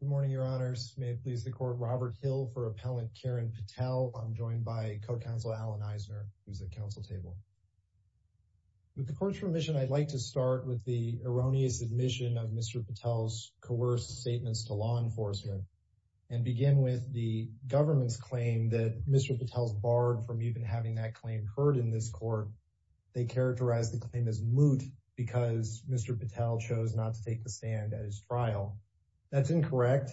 Good morning, your honors. May it please the court, Robert Hill for Appellant Kiran Patel. I'm joined by Co-Counsel Alan Eisner, who's at council table. With the court's permission, I'd like to start with the erroneous admission of Mr. Patel's coerced statements to law enforcement and begin with the government's claim that Mr. Patel's barred from even having that claim occurred in this court. They characterize the claim as moot because Mr. Patel chose not to take the stand at his trial. That's incorrect.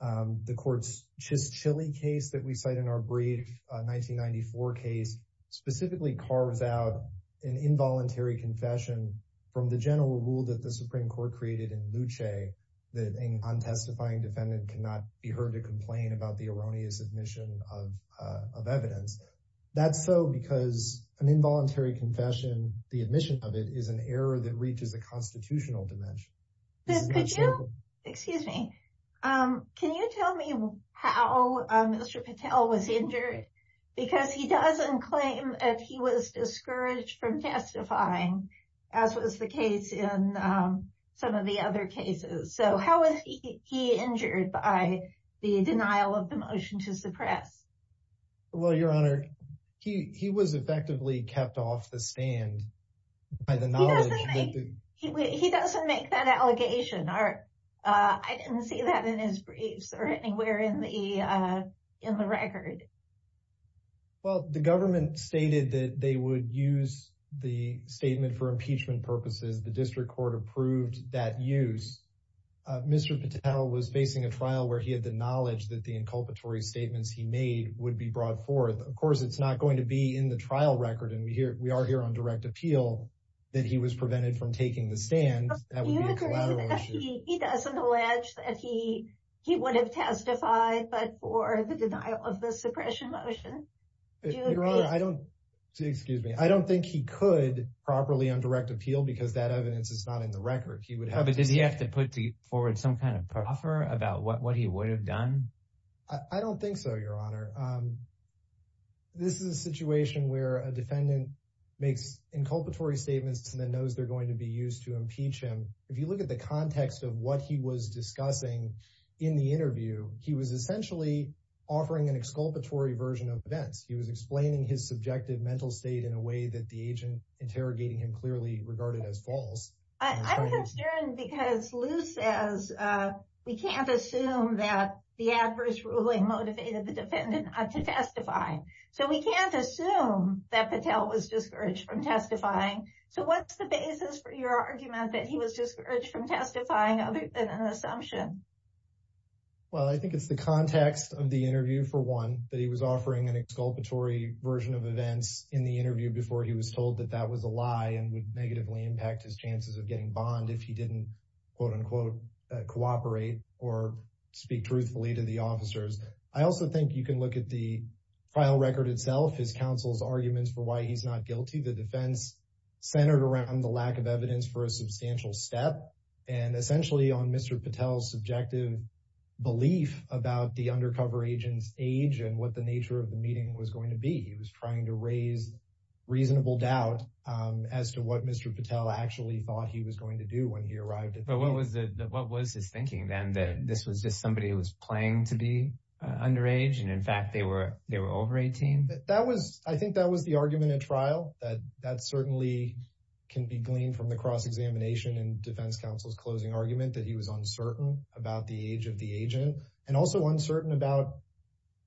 The court's Chishchilly case that we cite in our brief 1994 case specifically carves out an involuntary confession from the general rule that the Supreme Court created in Luce that an untestifying defendant cannot be heard to complain about the erroneous admission of evidence. That's so because an involuntary confession, the admission of it is an error that reaches the constitutional dimension. Excuse me. Can you tell me how Mr. Patel was injured? Because he doesn't claim that he was discouraged from testifying, as was the case in some of the other cases. So how was he injured by the denial of the motion to suppress? Well, Your Honor, he was effectively kept off the stand by the knowledge that the... He doesn't make that allegation. I didn't see that in his briefs or anywhere in the record. Well, the government stated that they would use the statement for impeachment purposes. The district court approved that use. Mr. Patel was facing a trial where he had the knowledge that the inculpatory statements he made would be brought forth. Of course, it's not going to be in the trial record. And we are here on direct appeal that he was prevented from taking the stand. He doesn't allege that he would have testified, but for the denial of the suppression motion. Your Honor, I don't think he could properly on direct appeal because that evidence is not in the record. But did he have to put forward some kind of proffer about what he would have done? I don't think so, Your Honor. This is a situation where a defendant makes inculpatory statements and then knows they're going to be used to impeach him. If you look at the context of what he was discussing in the interview, he was essentially offering an exculpatory version of events. He was explaining his subjective mental state in a way that the agent interrogating him clearly regarded as false. I'm concerned because Lou says we can't assume that the adverse ruling motivated the defendant to testify. So we can't assume that Patel was discouraged from testifying. So what's the basis for your argument that he was discouraged from testifying other than an assumption? Well, I think it's the context of the interview, for one, that he was offering an exculpatory version of events in the interview before he was told that that was a lie and would negatively impact his chances of getting bond if he didn't quote unquote cooperate or speak truthfully to the officers. I also think you can look at the file record itself, his counsel's arguments for why he's not guilty. The defense centered around the lack of evidence for a substantial step and essentially on Mr. Patel's subjective belief about the undercover agent's age and what the nature of the meeting was going to be. He was trying to raise reasonable doubt as to what Mr. Patel actually thought he was going to do when he arrived. But what was his thinking then that this was just somebody who was playing to be underage and in fact, they were over 18? I think that was the argument at trial that that certainly can be gleaned from the cross that he was uncertain about the age of the agent and also uncertain about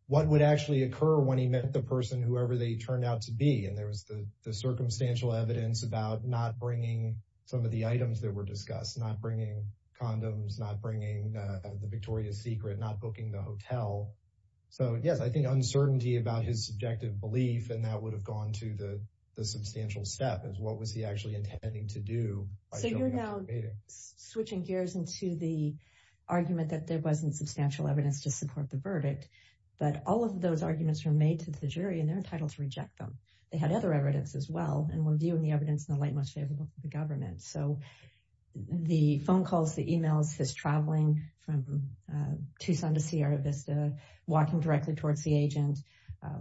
what would actually occur when he met the person, whoever they turned out to be. And there was the circumstantial evidence about not bringing some of the items that were discussed, not bringing condoms, not bringing the Victoria's Secret, not booking the hotel. So, yes, I think uncertainty about his subjective belief. And that would have gone to the substantial step is what was he actually intending to do? So you're now switching gears into the argument that there wasn't substantial evidence to support the verdict, but all of those arguments were made to the jury and they're entitled to reject them. They had other evidence as well and were viewing the evidence in the light most favorable for the government. So the phone calls, the emails, his traveling from Tucson to Sierra Vista, walking directly towards the agent,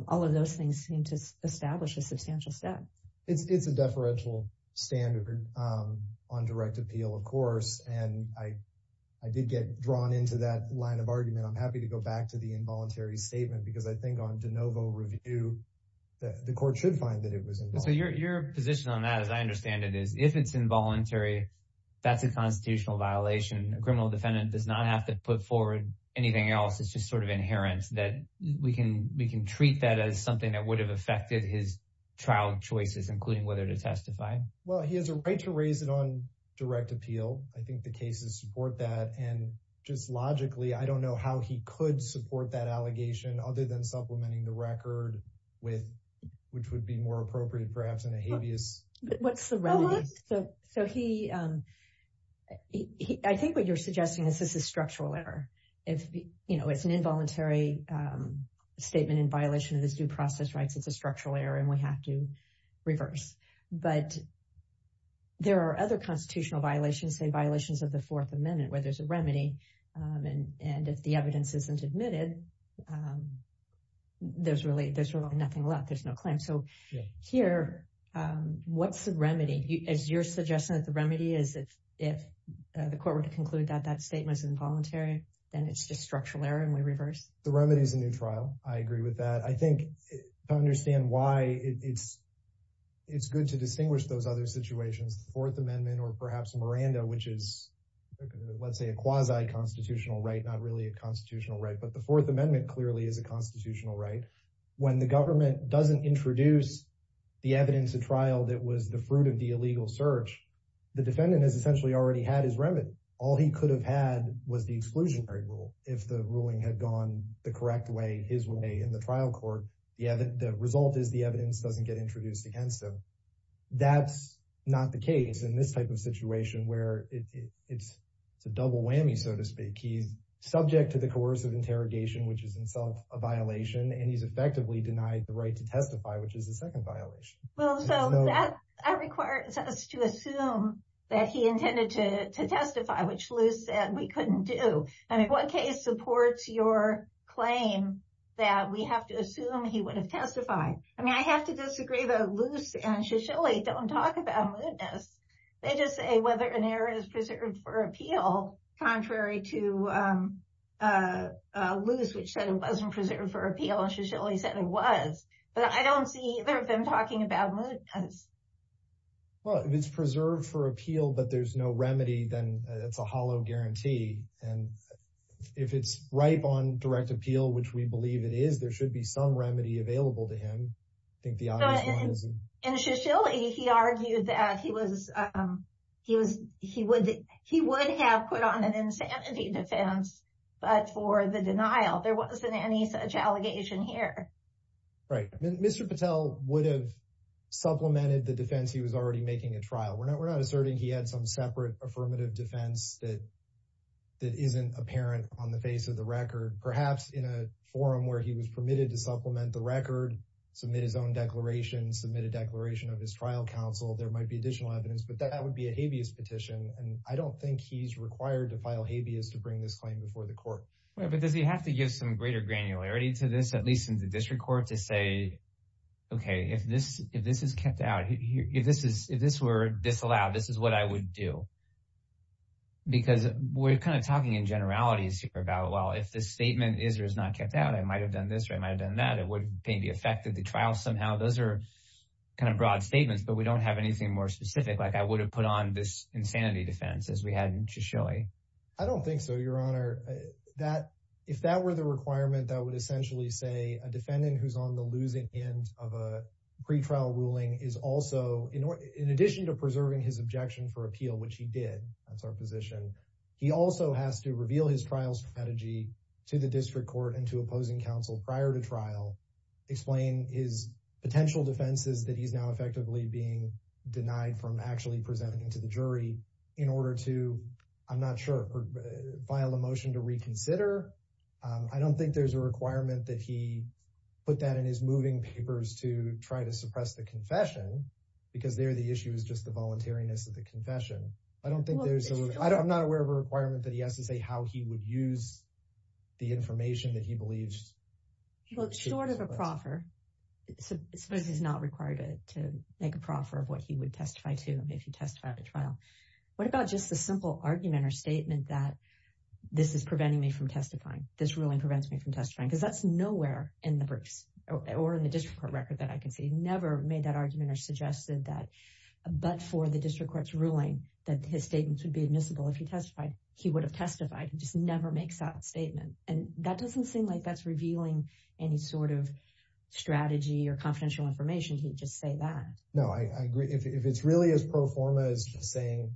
all of those things seem to establish a substantial step. It's a deferential standard on direct appeal, of course. And I did get drawn into that line of argument. I'm happy to go back to the involuntary statement because I think on de novo review, the court should find that it was. So your position on that, as I understand it, is if it's involuntary, that's a constitutional violation. A criminal defendant does not have to put forward anything else. It's just sort of inherent that we can treat that as something that would have affected his trial choices, including whether to testify. Well, he has a right to raise it on direct appeal. I think the cases support that. And just logically, I don't know how he could support that allegation other than supplementing the record with which would be more appropriate, perhaps in a habeas. What's the remedy? I think what you're suggesting is this is structural error. If it's an involuntary statement in violation of this due process rights, it's a structural error and we have to reverse. But there are other constitutional violations, say violations of the Fourth Amendment, where there's a remedy. And if the evidence isn't admitted, there's really nothing left. There's no claim. So here, what's the remedy? Is your suggestion that the remedy is if the court were to conclude that that statement is involuntary, then it's just structural error and we reverse? The remedy is a new trial. I agree with that. I think I understand why it's it's good to distinguish those other situations, the Fourth Amendment or perhaps Miranda, which is, let's say, a quasi constitutional right, not really a constitutional right. But the Fourth Amendment clearly is a constitutional right. When the government doesn't introduce the evidence of trial that was the fruit of the illegal search, the defendant has essentially already had his remedy. All he could have had was the exclusionary rule if the ruling had gone the correct way, his way in the trial court. The result is the evidence doesn't get introduced against him. That's not the case in this type of situation where it's a double whammy, so to speak. He's subject to the coercive interrogation, which is itself a violation, and he's effectively denied the right to testify, which is the second violation. Well, so that requires us to assume that he intended to testify, which Lou said we couldn't do. And in what case supports your claim that we have to assume he would have testified? I mean, I have to disagree, though. Luce and Shisholi don't talk about mootness. They just say whether an error is preserved for appeal. Contrary to Luce, which said it wasn't preserved for appeal, Shisholi said it was. But I don't see either of them talking about mootness. Well, if it's preserved for appeal, but there's no remedy, then it's a hollow guarantee. And if it's ripe on direct appeal, which we believe it is, there should be some remedy available to him. I think the obvious one isn't. And Shisholi, he argued that he would have put on an insanity defense, but for the denial. There wasn't any such allegation here. Right. Mr. Patel would have supplemented the defense. He was already making a trial. We're not asserting he had some separate affirmative defense that isn't apparent on the face of the record. Perhaps in a forum where he was permitted to supplement the record, submit his own declaration, submit a declaration of his trial counsel, there might be additional evidence. But that would be a habeas petition. And I don't think he's required to file habeas to bring this claim before the court. But does he have to give some greater granularity to this, at least in the district court, to say, OK, if this is kept out, if this were disallowed, this is what I would do? Because we're kind of talking in generalities here about, well, if this statement is or is not kept out, I might have done this or I might have done that. It would maybe affect the trial somehow. Those are kind of broad statements. But we don't have anything more specific, like I would have put on this insanity defense as we had in Shisholi. I don't think so, Your Honor. If that were the requirement, that would essentially say a defendant who's on the losing end of pretrial ruling is also, in addition to preserving his objection for appeal, which he did, that's our position, he also has to reveal his trial strategy to the district court and to opposing counsel prior to trial, explain his potential defenses that he's now effectively being denied from actually presenting to the jury in order to, I'm not sure, file a motion to reconsider. I don't think there's a requirement that he put that in his moving papers to try to suppress the confession because there the issue is just the voluntariness of the confession. I don't think there's, I'm not aware of a requirement that he has to say how he would use the information that he believes. Well, short of a proffer, suppose he's not required to make a proffer of what he would testify to him if he testified to trial. What about just the simple argument or statement that this is preventing me from testifying, this ruling prevents me from testifying? Because that's nowhere in the briefs or in the district court record that I can see. He never made that argument or suggested that, but for the district court's ruling, that his statements would be admissible if he testified. He would have testified. He just never makes that statement. And that doesn't seem like that's revealing any sort of strategy or confidential information. He'd just say that. No, I agree. If it's really as pro forma as just saying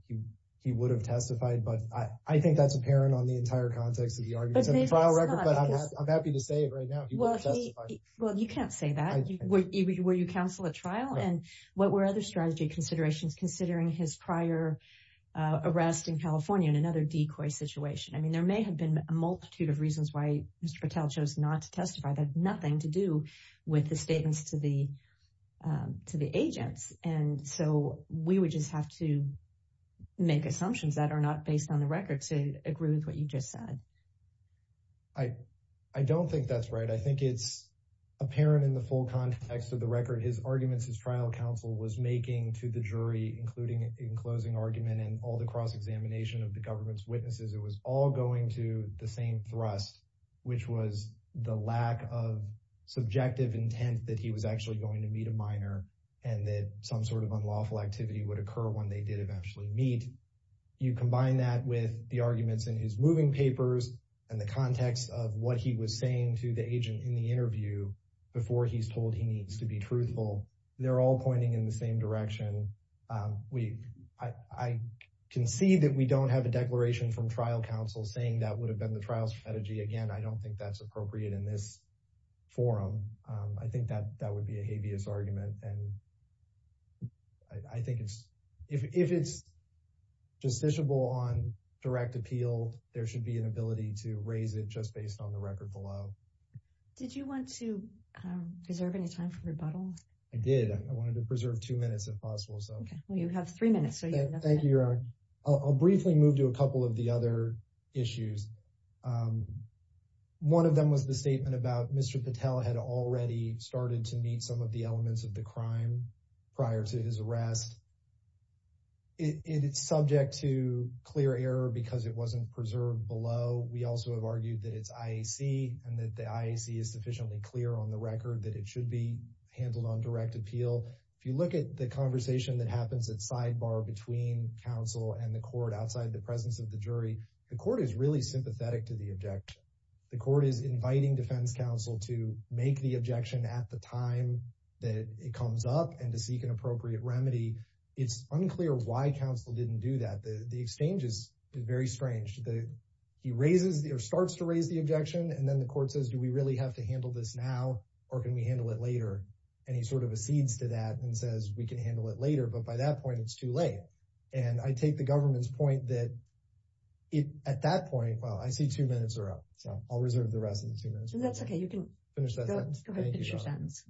he would have testified, but I think that's apparent on the entire context of the arguments in the trial record, but I'm happy to say it right now. Well, you can't say that. Will you counsel at trial? And what were other strategy considerations considering his prior arrest in California and another decoy situation? I mean, there may have been a multitude of reasons why Mr. Patel chose not to testify. That had nothing to do with the statements to the agents. And so we would just have to make assumptions that are not based on the record to agree with what you just said. I don't think that's right. I think it's apparent in the full context of the record. His arguments, his trial counsel was making to the jury, including in closing argument and all the cross-examination of the government's witnesses. It was all going to the same thrust, which was the lack of subjective intent that he was actually going to meet a minor and that some sort of unlawful activity would occur when they did eventually meet. You combine that with the arguments in his moving papers and the context of what he was saying to the agent in the interview before he's told he needs to be truthful. They're all pointing in the same direction. We, I can see that we don't have a declaration from trial counsel saying that would have been the trial's strategy. Again, I don't think that's appropriate in this forum. I think that that would be a habeas argument. And I think it's, if it's justiciable on direct appeal, there should be an ability to raise it just based on the record below. Did you want to preserve any time for rebuttal? I did. I wanted to preserve two minutes if possible. Okay, well, you have three minutes. Thank you, Your Honor. I'll briefly move to a couple of the other issues. One of them was the statement about Mr. Patel had already started to meet some of the elements of the crime prior to his arrest. It's subject to clear error because it wasn't preserved below. We also have argued that it's IAC and that the IAC is sufficiently clear on the record that it should be handled on direct appeal. If you look at the conversation that happens at sidebar between counsel and the court outside the presence of the jury, the court is really sympathetic to the objection. The court is inviting defense counsel to make the objection at the time that it comes up and to seek an appropriate remedy. It's unclear why counsel didn't do that. The exchange is very strange. He raises or starts to raise the objection, and then the court says, do we really have to handle this now or can we handle it later? And he sort of accedes to that and says, we can handle it later. But by that point, it's too late. And I take the government's point that at that point, well, I see two minutes are up. So I'll reserve the rest of the two minutes. That's okay. You can finish that sentence.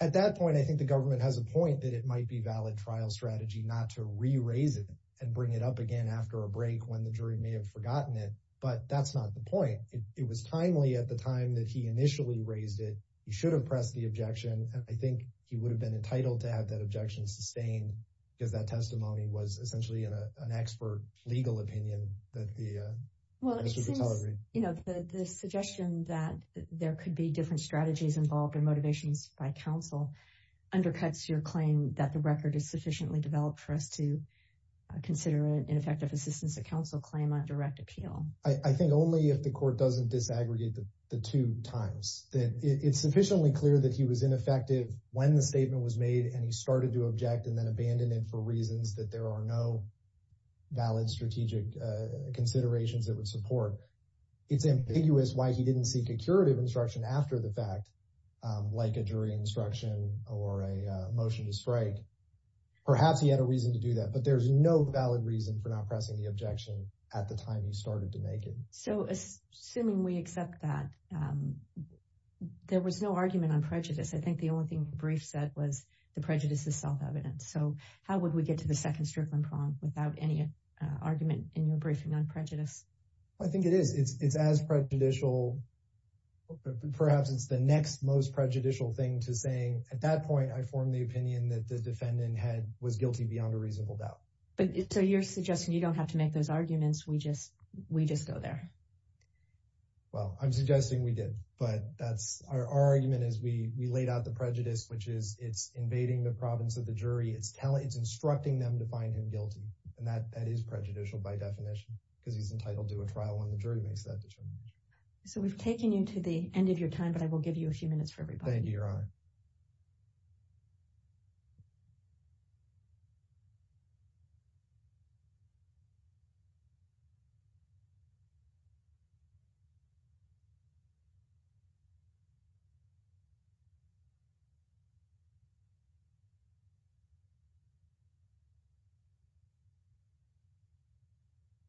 At that point, I think the government has a point that it might be valid trial strategy not to re-raise it and bring it up again after a break when the jury may have forgotten it. But that's not the point. It was timely at the time that he initially raised it. He should have pressed the objection. I think he would have been entitled to have that objection sustained because that testimony was essentially an expert legal opinion that the. Well, it seems, you know, the suggestion that there could be different strategies involved and motivations by counsel undercuts your claim that the record is sufficiently developed for us to consider an ineffective assistance of counsel claim on direct appeal. I think only if the court doesn't disaggregate the two times that it's sufficiently clear that he was ineffective when the statement was made and he started to object and then abandoned it for reasons that there are no valid strategic considerations that would support. It's ambiguous why he didn't seek a curative instruction after the fact, like a jury instruction or a motion to strike. Perhaps he had a reason to do that, but there's no valid reason for not pressing the objection at the time he started to make it. So assuming we accept that, there was no argument on prejudice. I think the only thing the brief said was the prejudice is self-evident. So how would we get to the second strickling prong without any argument in your briefing on prejudice? I think it is. It's as prejudicial. Perhaps it's the next most prejudicial thing to saying at that point, I formed the opinion that the defendant had was guilty beyond a reasonable doubt. So you're suggesting you don't have to make those arguments. We just go there. Well, I'm suggesting we did, but that's our argument is we laid out the prejudice, which is it's invading the province of the jury. It's instructing them to find him guilty. And that is prejudicial by definition because he's entitled to a trial when the jury makes that determination. So we've taken you to the end of your time, but I will give you a few minutes for everybody. Thank you, Your Honor.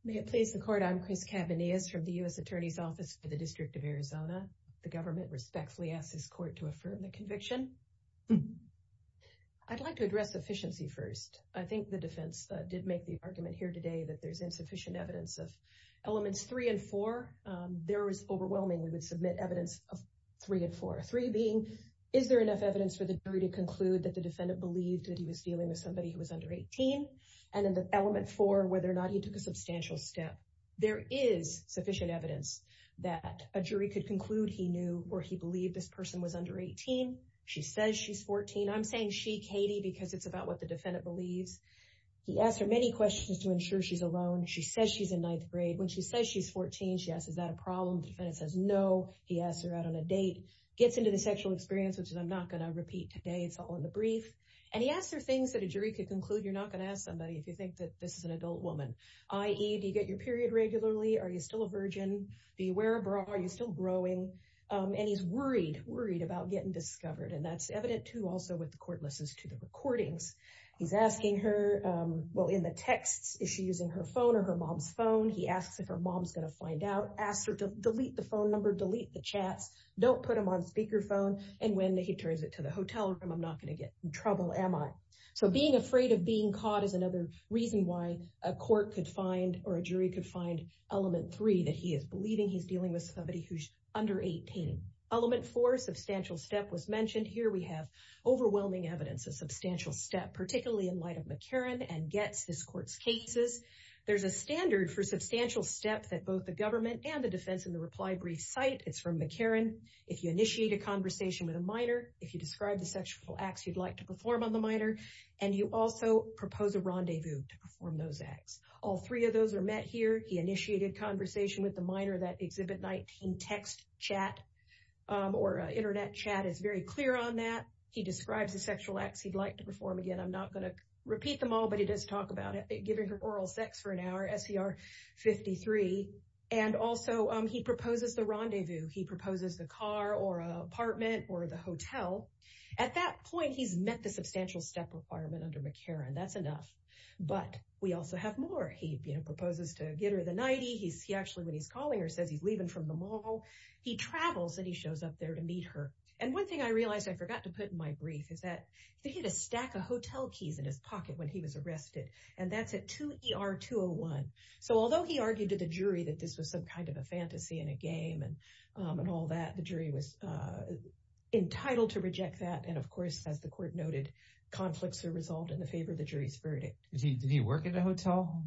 May it please the court. I'm Chris Cavanius from the U.S. Attorney's Office for the District of Arizona. The government respectfully asks this court to affirm the conviction. I'd like to address efficiency first. I think the defense did make the argument here today that there's insufficient evidence of elements three and four. There is overwhelming. We would submit evidence of three and four. Three being, is there enough evidence for the jury to conclude that the defendant believed that he was dealing with somebody who was under 18? And in the element four, whether or not he took a substantial step, there is sufficient evidence that a jury could conclude he knew or he believed this person was under 18. She says she's 14. I'm saying she, Katie, because it's about what the defendant believes. He asked her many questions to ensure she's alone. She says she's in ninth grade. When she says she's 14, she asks, is that a problem? The defendant says no. He asks her out on a date, gets into the sexual experience, which I'm not going to repeat today. It's all in the brief. And he asked her things that a jury could conclude you're not going to ask somebody if you think that this is an adult woman, i.e. Do you get your period regularly? Are you still a virgin? Do you wear a bra? Are you still growing? And he's worried, worried about getting discovered. And that's evident, too, also with the court listens to the recordings. He's asking her, well, in the texts, is she using her phone or her mom's phone? He asks if her mom's going to find out, asks her to delete the phone number, delete the chats, don't put him on speakerphone. And when he turns it to the hotel room, I'm not going to get in trouble, am I? So being afraid of being caught is another reason why a court could find or a jury could find element three, that he is believing he's dealing with somebody who's under 18. Element four, substantial step was mentioned. Here we have overwhelming evidence of substantial step, particularly in light of McCarran and Getz, this court's cases. There's a standard for substantial step that both the government and the defense in the reply brief cite. It's from McCarran. If you initiate a conversation with a minor, if you describe the sexual acts you'd like to perform on the minor, and you also propose a rendezvous to perform those acts. All three of those are met here. He initiated conversation with the minor, that exhibit 19 text chat or internet chat is very clear on that. He describes the sexual acts he'd like to perform. Again, I'm not going to repeat them all, but he does talk about it, giving her oral sex for an hour, SCR 53. And also he proposes the rendezvous. He proposes the car or apartment or the hotel. At that point, he's met the substantial step requirement under McCarran. That's enough. But we also have more. He proposes to get her the nightie. He actually, when he's calling her, says he's leaving from the mall. He travels and he shows up there to meet her. And one thing I realized I forgot to put in my brief is that he had a stack of hotel keys in his pocket when he was arrested. And that's at 2 ER 201. So although he argued to the jury that this was some kind of a fantasy in a game and all that, the jury was entitled to reject that. And of course, as the court noted, conflicts are resolved in the favor of the jury's verdict. Did he work at a hotel?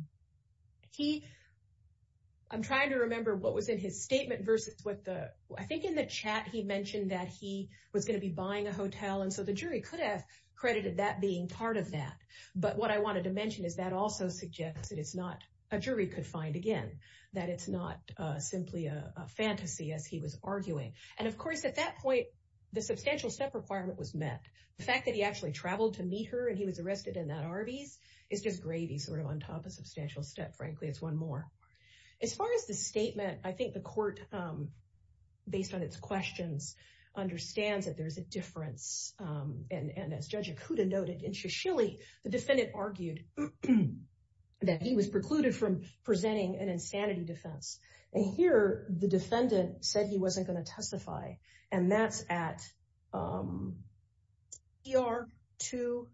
I'm trying to remember what was in his statement versus what the I think in the chat he mentioned that he was going to be buying a hotel. And so the jury could have credited that being part of that. But what I wanted to mention is that also suggests that it's not a jury could find again that it's not simply a fantasy, as he was arguing. And of course, at that point, the substantial step requirement was met. The fact that he actually traveled to meet her and he was arrested in that Arby's is just gravy sort of on top of substantial step. Frankly, it's one more. As far as the statement, I think the court, based on its questions, understands that there's a difference. And as Judge Okuda noted in Shishilly, the defendant argued that he was precluded from presenting an insanity defense. And here, the defendant said he wasn't going to testify. And that's at your two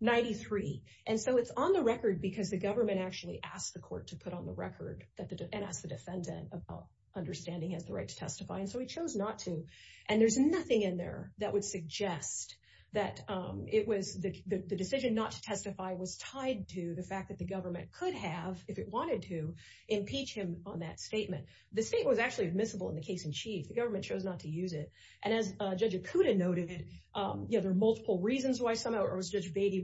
ninety three. And so it's on the record because the government actually asked the court to put on the record and ask the defendant about understanding has the right to testify. And so he chose not to. And there's nothing in there that would suggest that it was the decision not to testify was tied to the fact that the government could have if it wanted to impeach him on that statement. The state was actually admissible in the case in chief. The government chose not to use it. And as Judge Okuda noted, you know, there are multiple reasons why someone or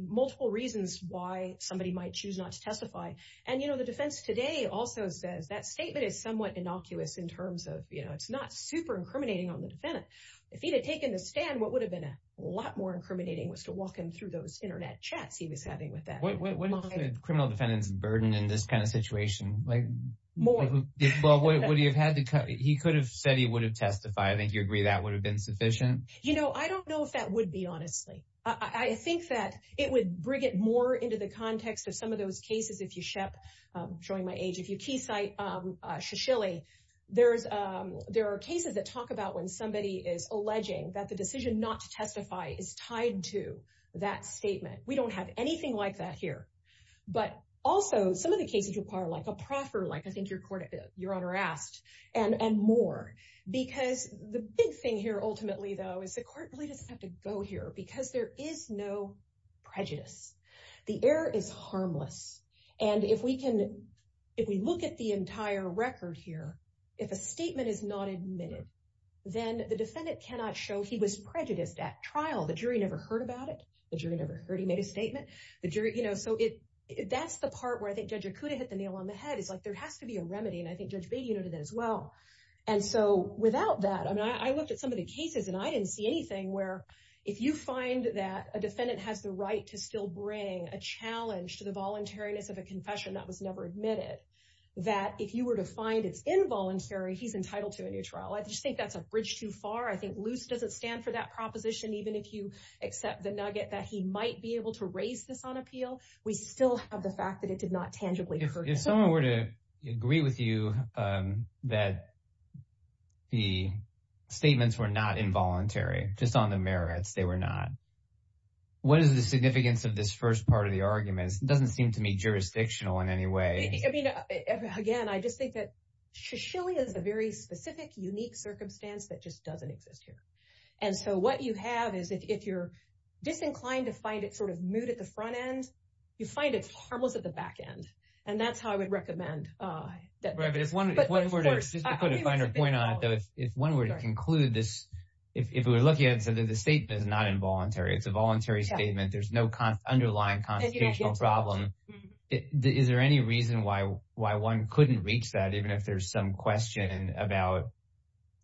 multiple reasons why somebody might choose not to testify. And, you know, the defense today also says that statement is somewhat innocuous in terms of, you know, it's not super incriminating on the defendant. If he had taken the stand, what would have been a lot more incriminating was to walk him through those Internet chats he was having with that criminal defendant's burden in this kind of situation. Like more. Well, what do you have to cut? He could have said he would have testified. I think you agree that would have been sufficient. You know, I don't know if that would be, honestly, I think that it would bring it more into the context of some of those cases. If you ship showing my age, if you key site, she's really there's there are cases that talk about when somebody is alleging that the decision not to testify is tied to that statement. We don't have anything like that here. But also some of the cases require like a proffer, like I think your court, your honor asked and more, because the big thing here, ultimately, though, is the court really doesn't have to go here because there is no prejudice. The air is harmless. And if we can, if we look at the entire record here, if a statement is not admitted, then the defendant cannot show he was prejudiced at trial. The jury never heard about it. The jury never heard he made a statement. The jury, you know, so that's the part where I think Judge Akuda hit the nail on the head is like there has to be a remedy. And I think Judge Beatty noted that as well. And so without that, I mean, I looked at some of the cases and I didn't see anything where if you find that a defendant has the right to still bring a challenge to the voluntariness of a confession that was never admitted, that if you were to find it's involuntary, he's entitled to a new trial. I just think that's a bridge too far. I think loose doesn't stand for that proposition. Even if you accept the nugget that he might be able to raise this on appeal, we still have the fact that it did not tangibly hurt him. If someone were to agree with you that the statements were not involuntary, just on the merits, they were not. What is the significance of this first part of the arguments? It doesn't seem to me jurisdictional in any way. I mean, again, I just think that Shoshillia is a very specific, unique circumstance that just doesn't exist here. And so what you have is if you're disinclined to find it sort of moot at the front end, you find it's harmless at the back end. And that's how I would recommend that. Right, but if one were to, just to put a finer point on it though, if one were to conclude this, if we were looking at it and said that the statement is not involuntary, it's a voluntary statement, there's no underlying constitutional problem, is there any reason why one couldn't reach that even if there's some question about,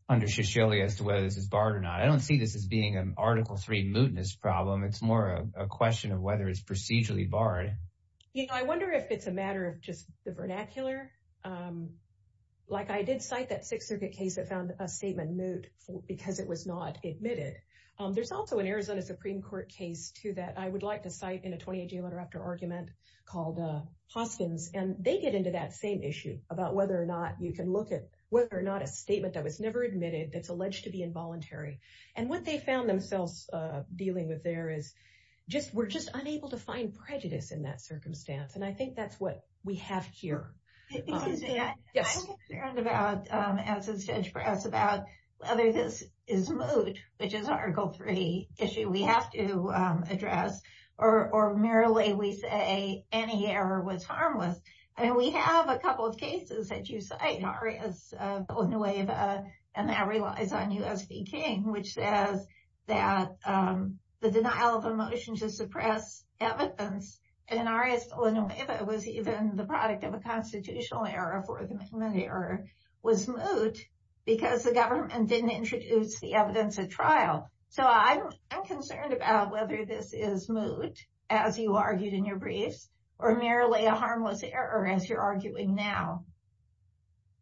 under Shoshillia, as to whether this is barred or not? I don't see this as being an Article III mootness problem. It's more a question of whether it's procedurally barred. You know, I wonder if it's a matter of just the vernacular. Like I did cite that Sixth Circuit case that found a statement moot because it was not admitted. There's also an Arizona Supreme Court case too that I would like to cite in a 28-day argument called Hoskins. And they get into that same issue about whether or not you can look at whether or not a statement that was never admitted that's alleged to be involuntary. And what they found themselves dealing with there is just, we're just unable to find prejudice in that circumstance. And I think that's what we have here. Excuse me, I'm concerned about, as is Judge Brass, about whether this is moot, which is an Article III issue we have to address, or merely we say any error was harmless. And we have a couple of cases that you cite, Arias-Villanueva and that relies on U.S. v. King, which says that the denial of a motion to suppress evidence in Arias-Villanueva was even the product of a constitutional error for the amendment error, was moot because the government didn't introduce the evidence at trial. So I'm concerned about whether this is moot, as you argued in your briefs, or merely a harmless error, as you're arguing now.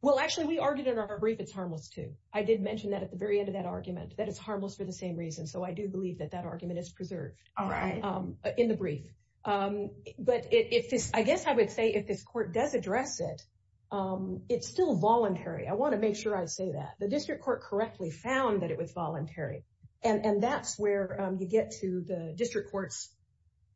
Well, actually, we argued in our brief it's harmless too. I did mention that at the very end of that argument, that it's harmless for the same reason. So I do believe that that argument is preserved in the brief. But I guess I would say if this court does address it, it's still voluntary. I want to make sure I say that. The district court correctly found that it was voluntary. And that's where you get to the district court's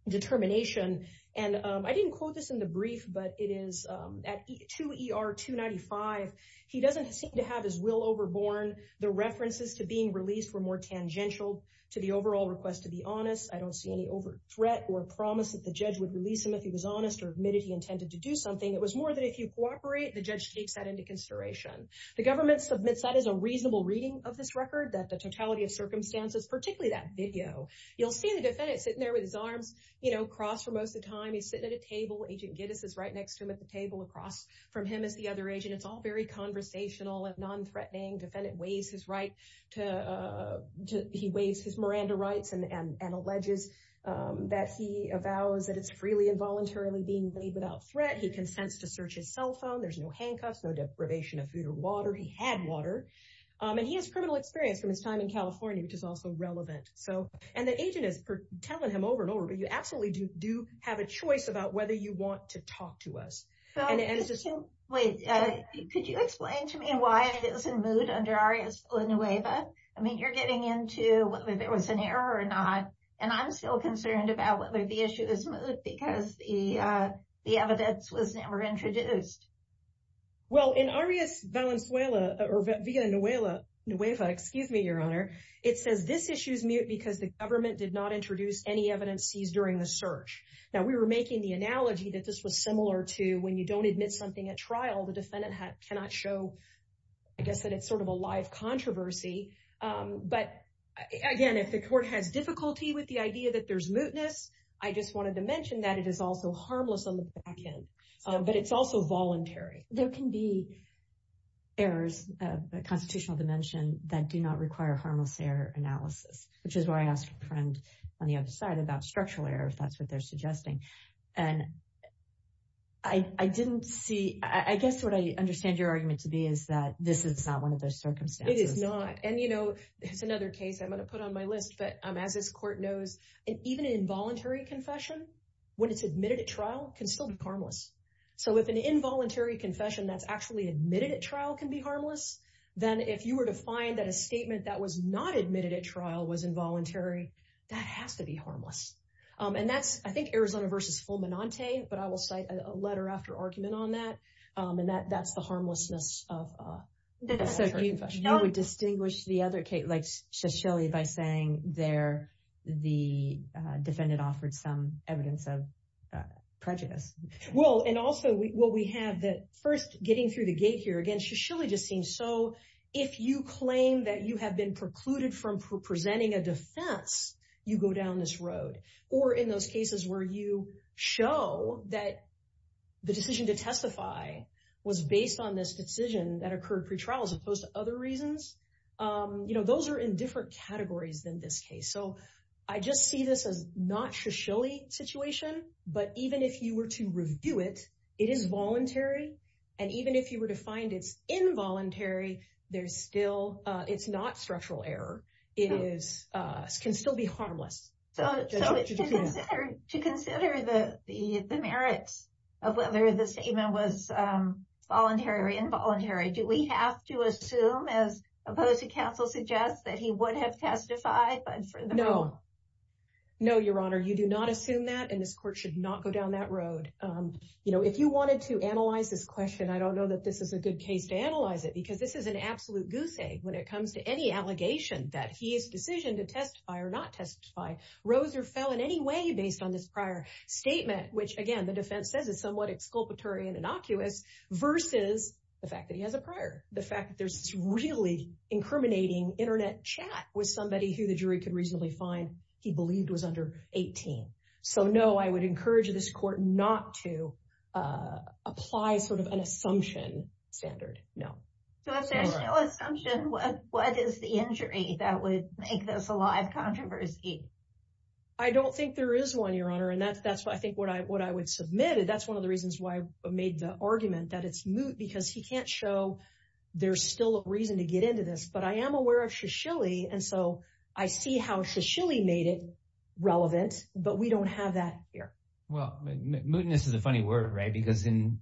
determination. And I didn't quote this in the brief, but it is at 2 ER 295, he doesn't seem to have his will overborne. The references to being released were more tangential to the overall request to be honest. I don't see any overt threat or promise that the judge would release him if he was honest or admitted he intended to do something. It was more that if you cooperate, the judge takes that into consideration. The government submits that as a reasonable reading of this record, that the totality of circumstances, particularly that video, you'll see the defendant sitting there with his arms crossed for most of the time. He's sitting at a table. Agent Giddes is right next to him at the table across from him as the other agent. It's all very conversational and non-threatening. Defendant weighs his Miranda rights and alleges that he avows that it's freely and voluntarily being made without threat. He consents to search his cell phone. There's no handcuffs, no deprivation of food or water. He had water. And he has criminal experience from his time in California, which is also relevant. So, and the agent is telling him over and over, but you absolutely do have a choice about whether you want to talk to us. And it's just so. Wait, could you explain to me why it was in moot under Arias Villanueva? I mean, you're getting into whether there was an error or not. And I'm still concerned about whether the issue is moot because the evidence was never introduced. Well, in Arias Villanueva, it says this issue is moot because the government did not introduce any evidence seized during the search. Now, we were making the analogy that this was similar to when you don't admit something at trial, the defendant cannot show. I guess that it's sort of a live controversy. But again, if the court has difficulty with the idea that there's mootness, I just wanted to mention that it is also harmless on the back end. But it's also voluntary. There can be errors of the constitutional dimension that do not require harmless error analysis, which is why I asked a friend on the other side about structural error, if that's what they're suggesting. And I didn't see, I guess what I understand your argument to be is that this is not one of those circumstances. It is not. And, you know, it's another case I'm going to put on my list, but as this court knows, even an involuntary confession, when it's admitted at trial, can still be harmless. So if an involuntary confession that's actually admitted at trial can be harmless, then if you were to find that a statement that was not admitted at trial was involuntary, that has to be harmless. And that's, I think, Arizona v. Fulminante, but I will cite a letter after argument on that. And that's the harmlessness of the confession. You would distinguish the other case, like Shisheli, by saying there the defendant offered some evidence of prejudice. Well, and also what we have that first getting through the gate here, again, Shisheli just seems so, if you claim that you have been precluded from presenting a defense, you go down this road. Or in those cases where you show that the decision to testify was based on this decision that occurred pretrial as opposed to other reasons, those are in different categories than this case. So I just see this as not Shisheli situation, but even if you were to review it, it is voluntary. And even if you were to find it's involuntary, it's not structural error. It can still be harmless. So to consider the merits of whether the statement was voluntary or involuntary, do we have to assume, as opposed to counsel suggests, that he would have testified? No, no, Your Honor, you do not assume that. And this court should not go down that road. You know, if you wanted to analyze this question, I don't know that this is a good case to analyze it because this is an absolute goose egg when it comes to any allegation that he is decision to testify or not testify, rose or fell in any way based on this prior statement, which again, the defense says is somewhat exculpatory and innocuous versus the fact that he has a prior. The fact that there's really incriminating internet chat with somebody who the jury could reasonably find he believed was under 18. So no, I would encourage this court not to apply sort of an assumption standard. No. If there's no assumption, what is the injury that would make this a live controversy? I don't think there is one, Your Honor. And that's what I think what I would submit. And that's one of the reasons why I made the argument that it's moot because he can't show there's still a reason to get into this. But I am aware of Shashili. And so I see how Shashili made it relevant. But we don't have that here. Well, mootness is a funny word, right? Because in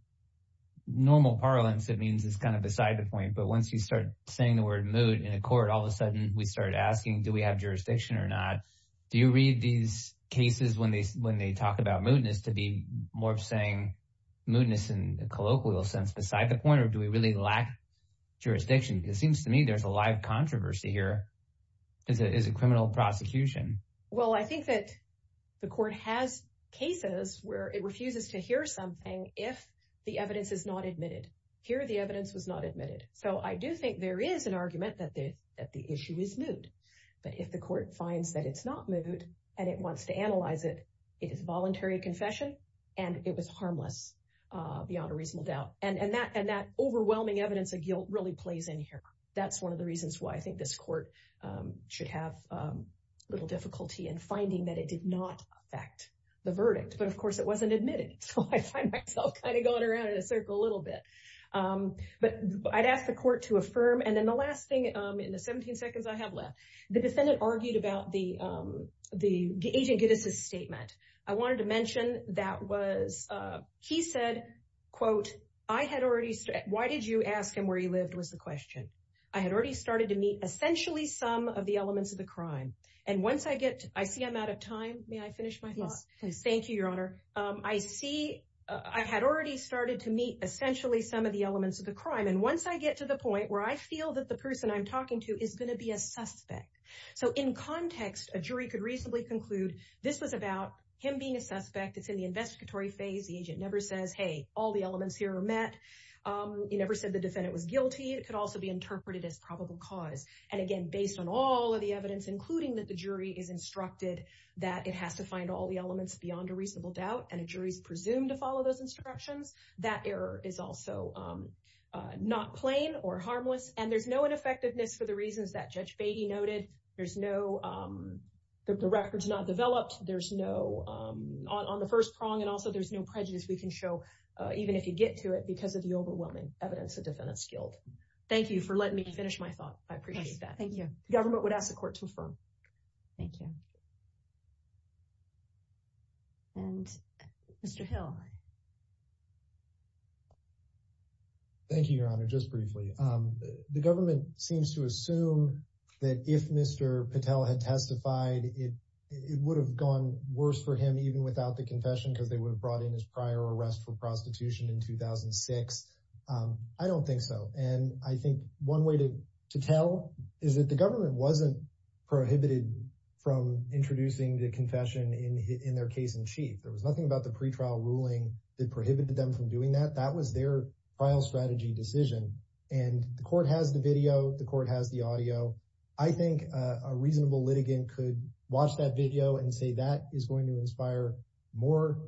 normal parlance, it means it's kind of beside the point. But once you start saying the word moot in a court, all of a sudden we started asking, do we have jurisdiction or not? Do you read these cases when they talk about mootness to be more of saying mootness in a colloquial sense beside the point? Or do we really lack jurisdiction? It seems to me there's a live controversy here. Is it is a criminal prosecution? Well, I think that the court has cases where it refuses to hear something if the evidence is not admitted. Here, the evidence was not admitted. So I do think there is an argument that the issue is moot. But if the court finds that it's not moot and it wants to analyze it, it is voluntary confession. And it was harmless beyond a reasonable doubt. And that overwhelming evidence of guilt really plays in here. That's one of the reasons why I think this court should have a little difficulty in finding that it did not affect the verdict. But of course, it wasn't admitted. So I find myself kind of going around in a circle a little bit. But I'd ask the court to affirm. And then the last thing in the 17 seconds I have left, the defendant argued about the Agent Giddes' statement. I wanted to mention that was he said, quote, I had already said, why did you ask him where he lived was the question. I had already started to meet essentially some of the elements of the crime. And once I get, I see I'm out of time. May I finish my thoughts? Thank you, Your Honor. I had already started to meet essentially some of the elements of the crime. And once I get to the point where I feel that the person I'm talking to is going to be a suspect. So in context, a jury could reasonably conclude this was about him being a suspect. It's in the investigatory phase. The agent never says, hey, all the elements here are met. He never said the defendant was guilty. It could also be interpreted as probable cause. And again, based on all of the evidence, including that the jury is instructed that it has to find all the elements beyond a reasonable doubt. And a jury is presumed to follow those instructions. That error is also not plain or harmless. And there's no ineffectiveness for the reasons that Judge Beatty noted. There's no, the record's not developed. There's no, on the first prong. And also there's no prejudice we can show, even if you get to it, because of the overwhelming evidence of defendant's guilt. Thank you for letting me finish my thought. I appreciate that. Thank you. The government would ask the court to affirm. Thank you. And Mr. Hill. Thank you, Your Honor. Just briefly. The government seems to assume that if Mr. Patel had testified, it would have gone worse for him, even without the confession, because they would have brought in his prior arrest for prostitution in 2006. I don't think so. And I think one way to tell is that the government wasn't prohibited from introducing the confession in their case in chief. There was nothing about the pretrial ruling that prohibited them from doing that. That was their trial strategy decision. And the court has the video. The court has the audio. I think a reasonable litigant could watch that video and say that is going to inspire more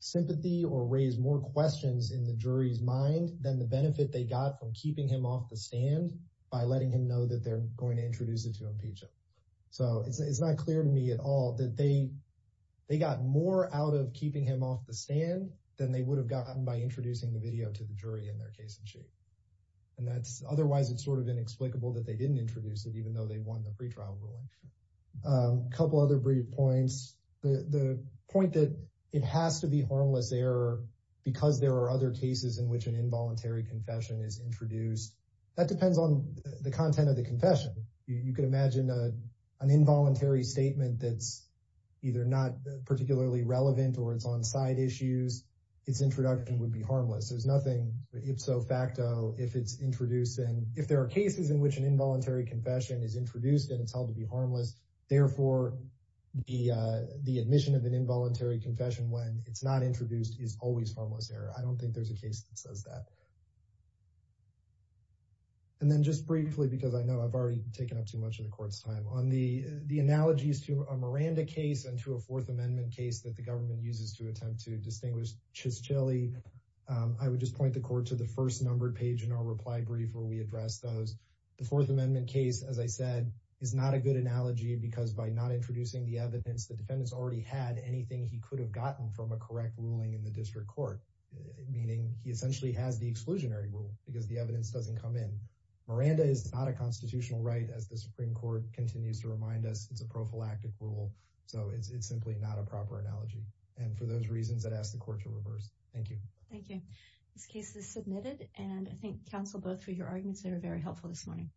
sympathy or raise more questions in the jury's mind than the benefit they got from keeping him off the stand by letting him know that they're going to introduce it to impeach him. So it's not clear to me at all that they got more out of keeping him off the stand than they would have gotten by introducing the video to the jury in their case in chief. And otherwise, it's sort of inexplicable that they didn't introduce it, even though they won the pretrial ruling. A couple other brief points. The point that it has to be harmless error because there are other cases in which an involuntary confession is introduced. That depends on the content of the confession. You could imagine an involuntary statement that's either not particularly relevant or it's on side issues. Its introduction would be harmless. There's nothing ipso facto if it's introduced. And if there are cases in which an involuntary confession is introduced and it's held to harmless. Therefore, the admission of an involuntary confession when it's not introduced is always harmless error. I don't think there's a case that says that. And then just briefly, because I know I've already taken up too much of the court's time on the analogies to a Miranda case and to a Fourth Amendment case that the government uses to attempt to distinguish Chiscelli. I would just point the court to the first numbered page in our reply brief where we address those. The Fourth Amendment case, as I said, is not a good analogy because by not introducing the evidence, the defendants already had anything he could have gotten from a correct ruling in the district court, meaning he essentially has the exclusionary rule because the evidence doesn't come in. Miranda is not a constitutional right, as the Supreme Court continues to remind us. It's a prophylactic rule. So it's simply not a proper analogy. And for those reasons, I'd ask the court to reverse. Thank you. Thank you. This case is submitted. And I thank counsel both for your arguments. They were very helpful this morning.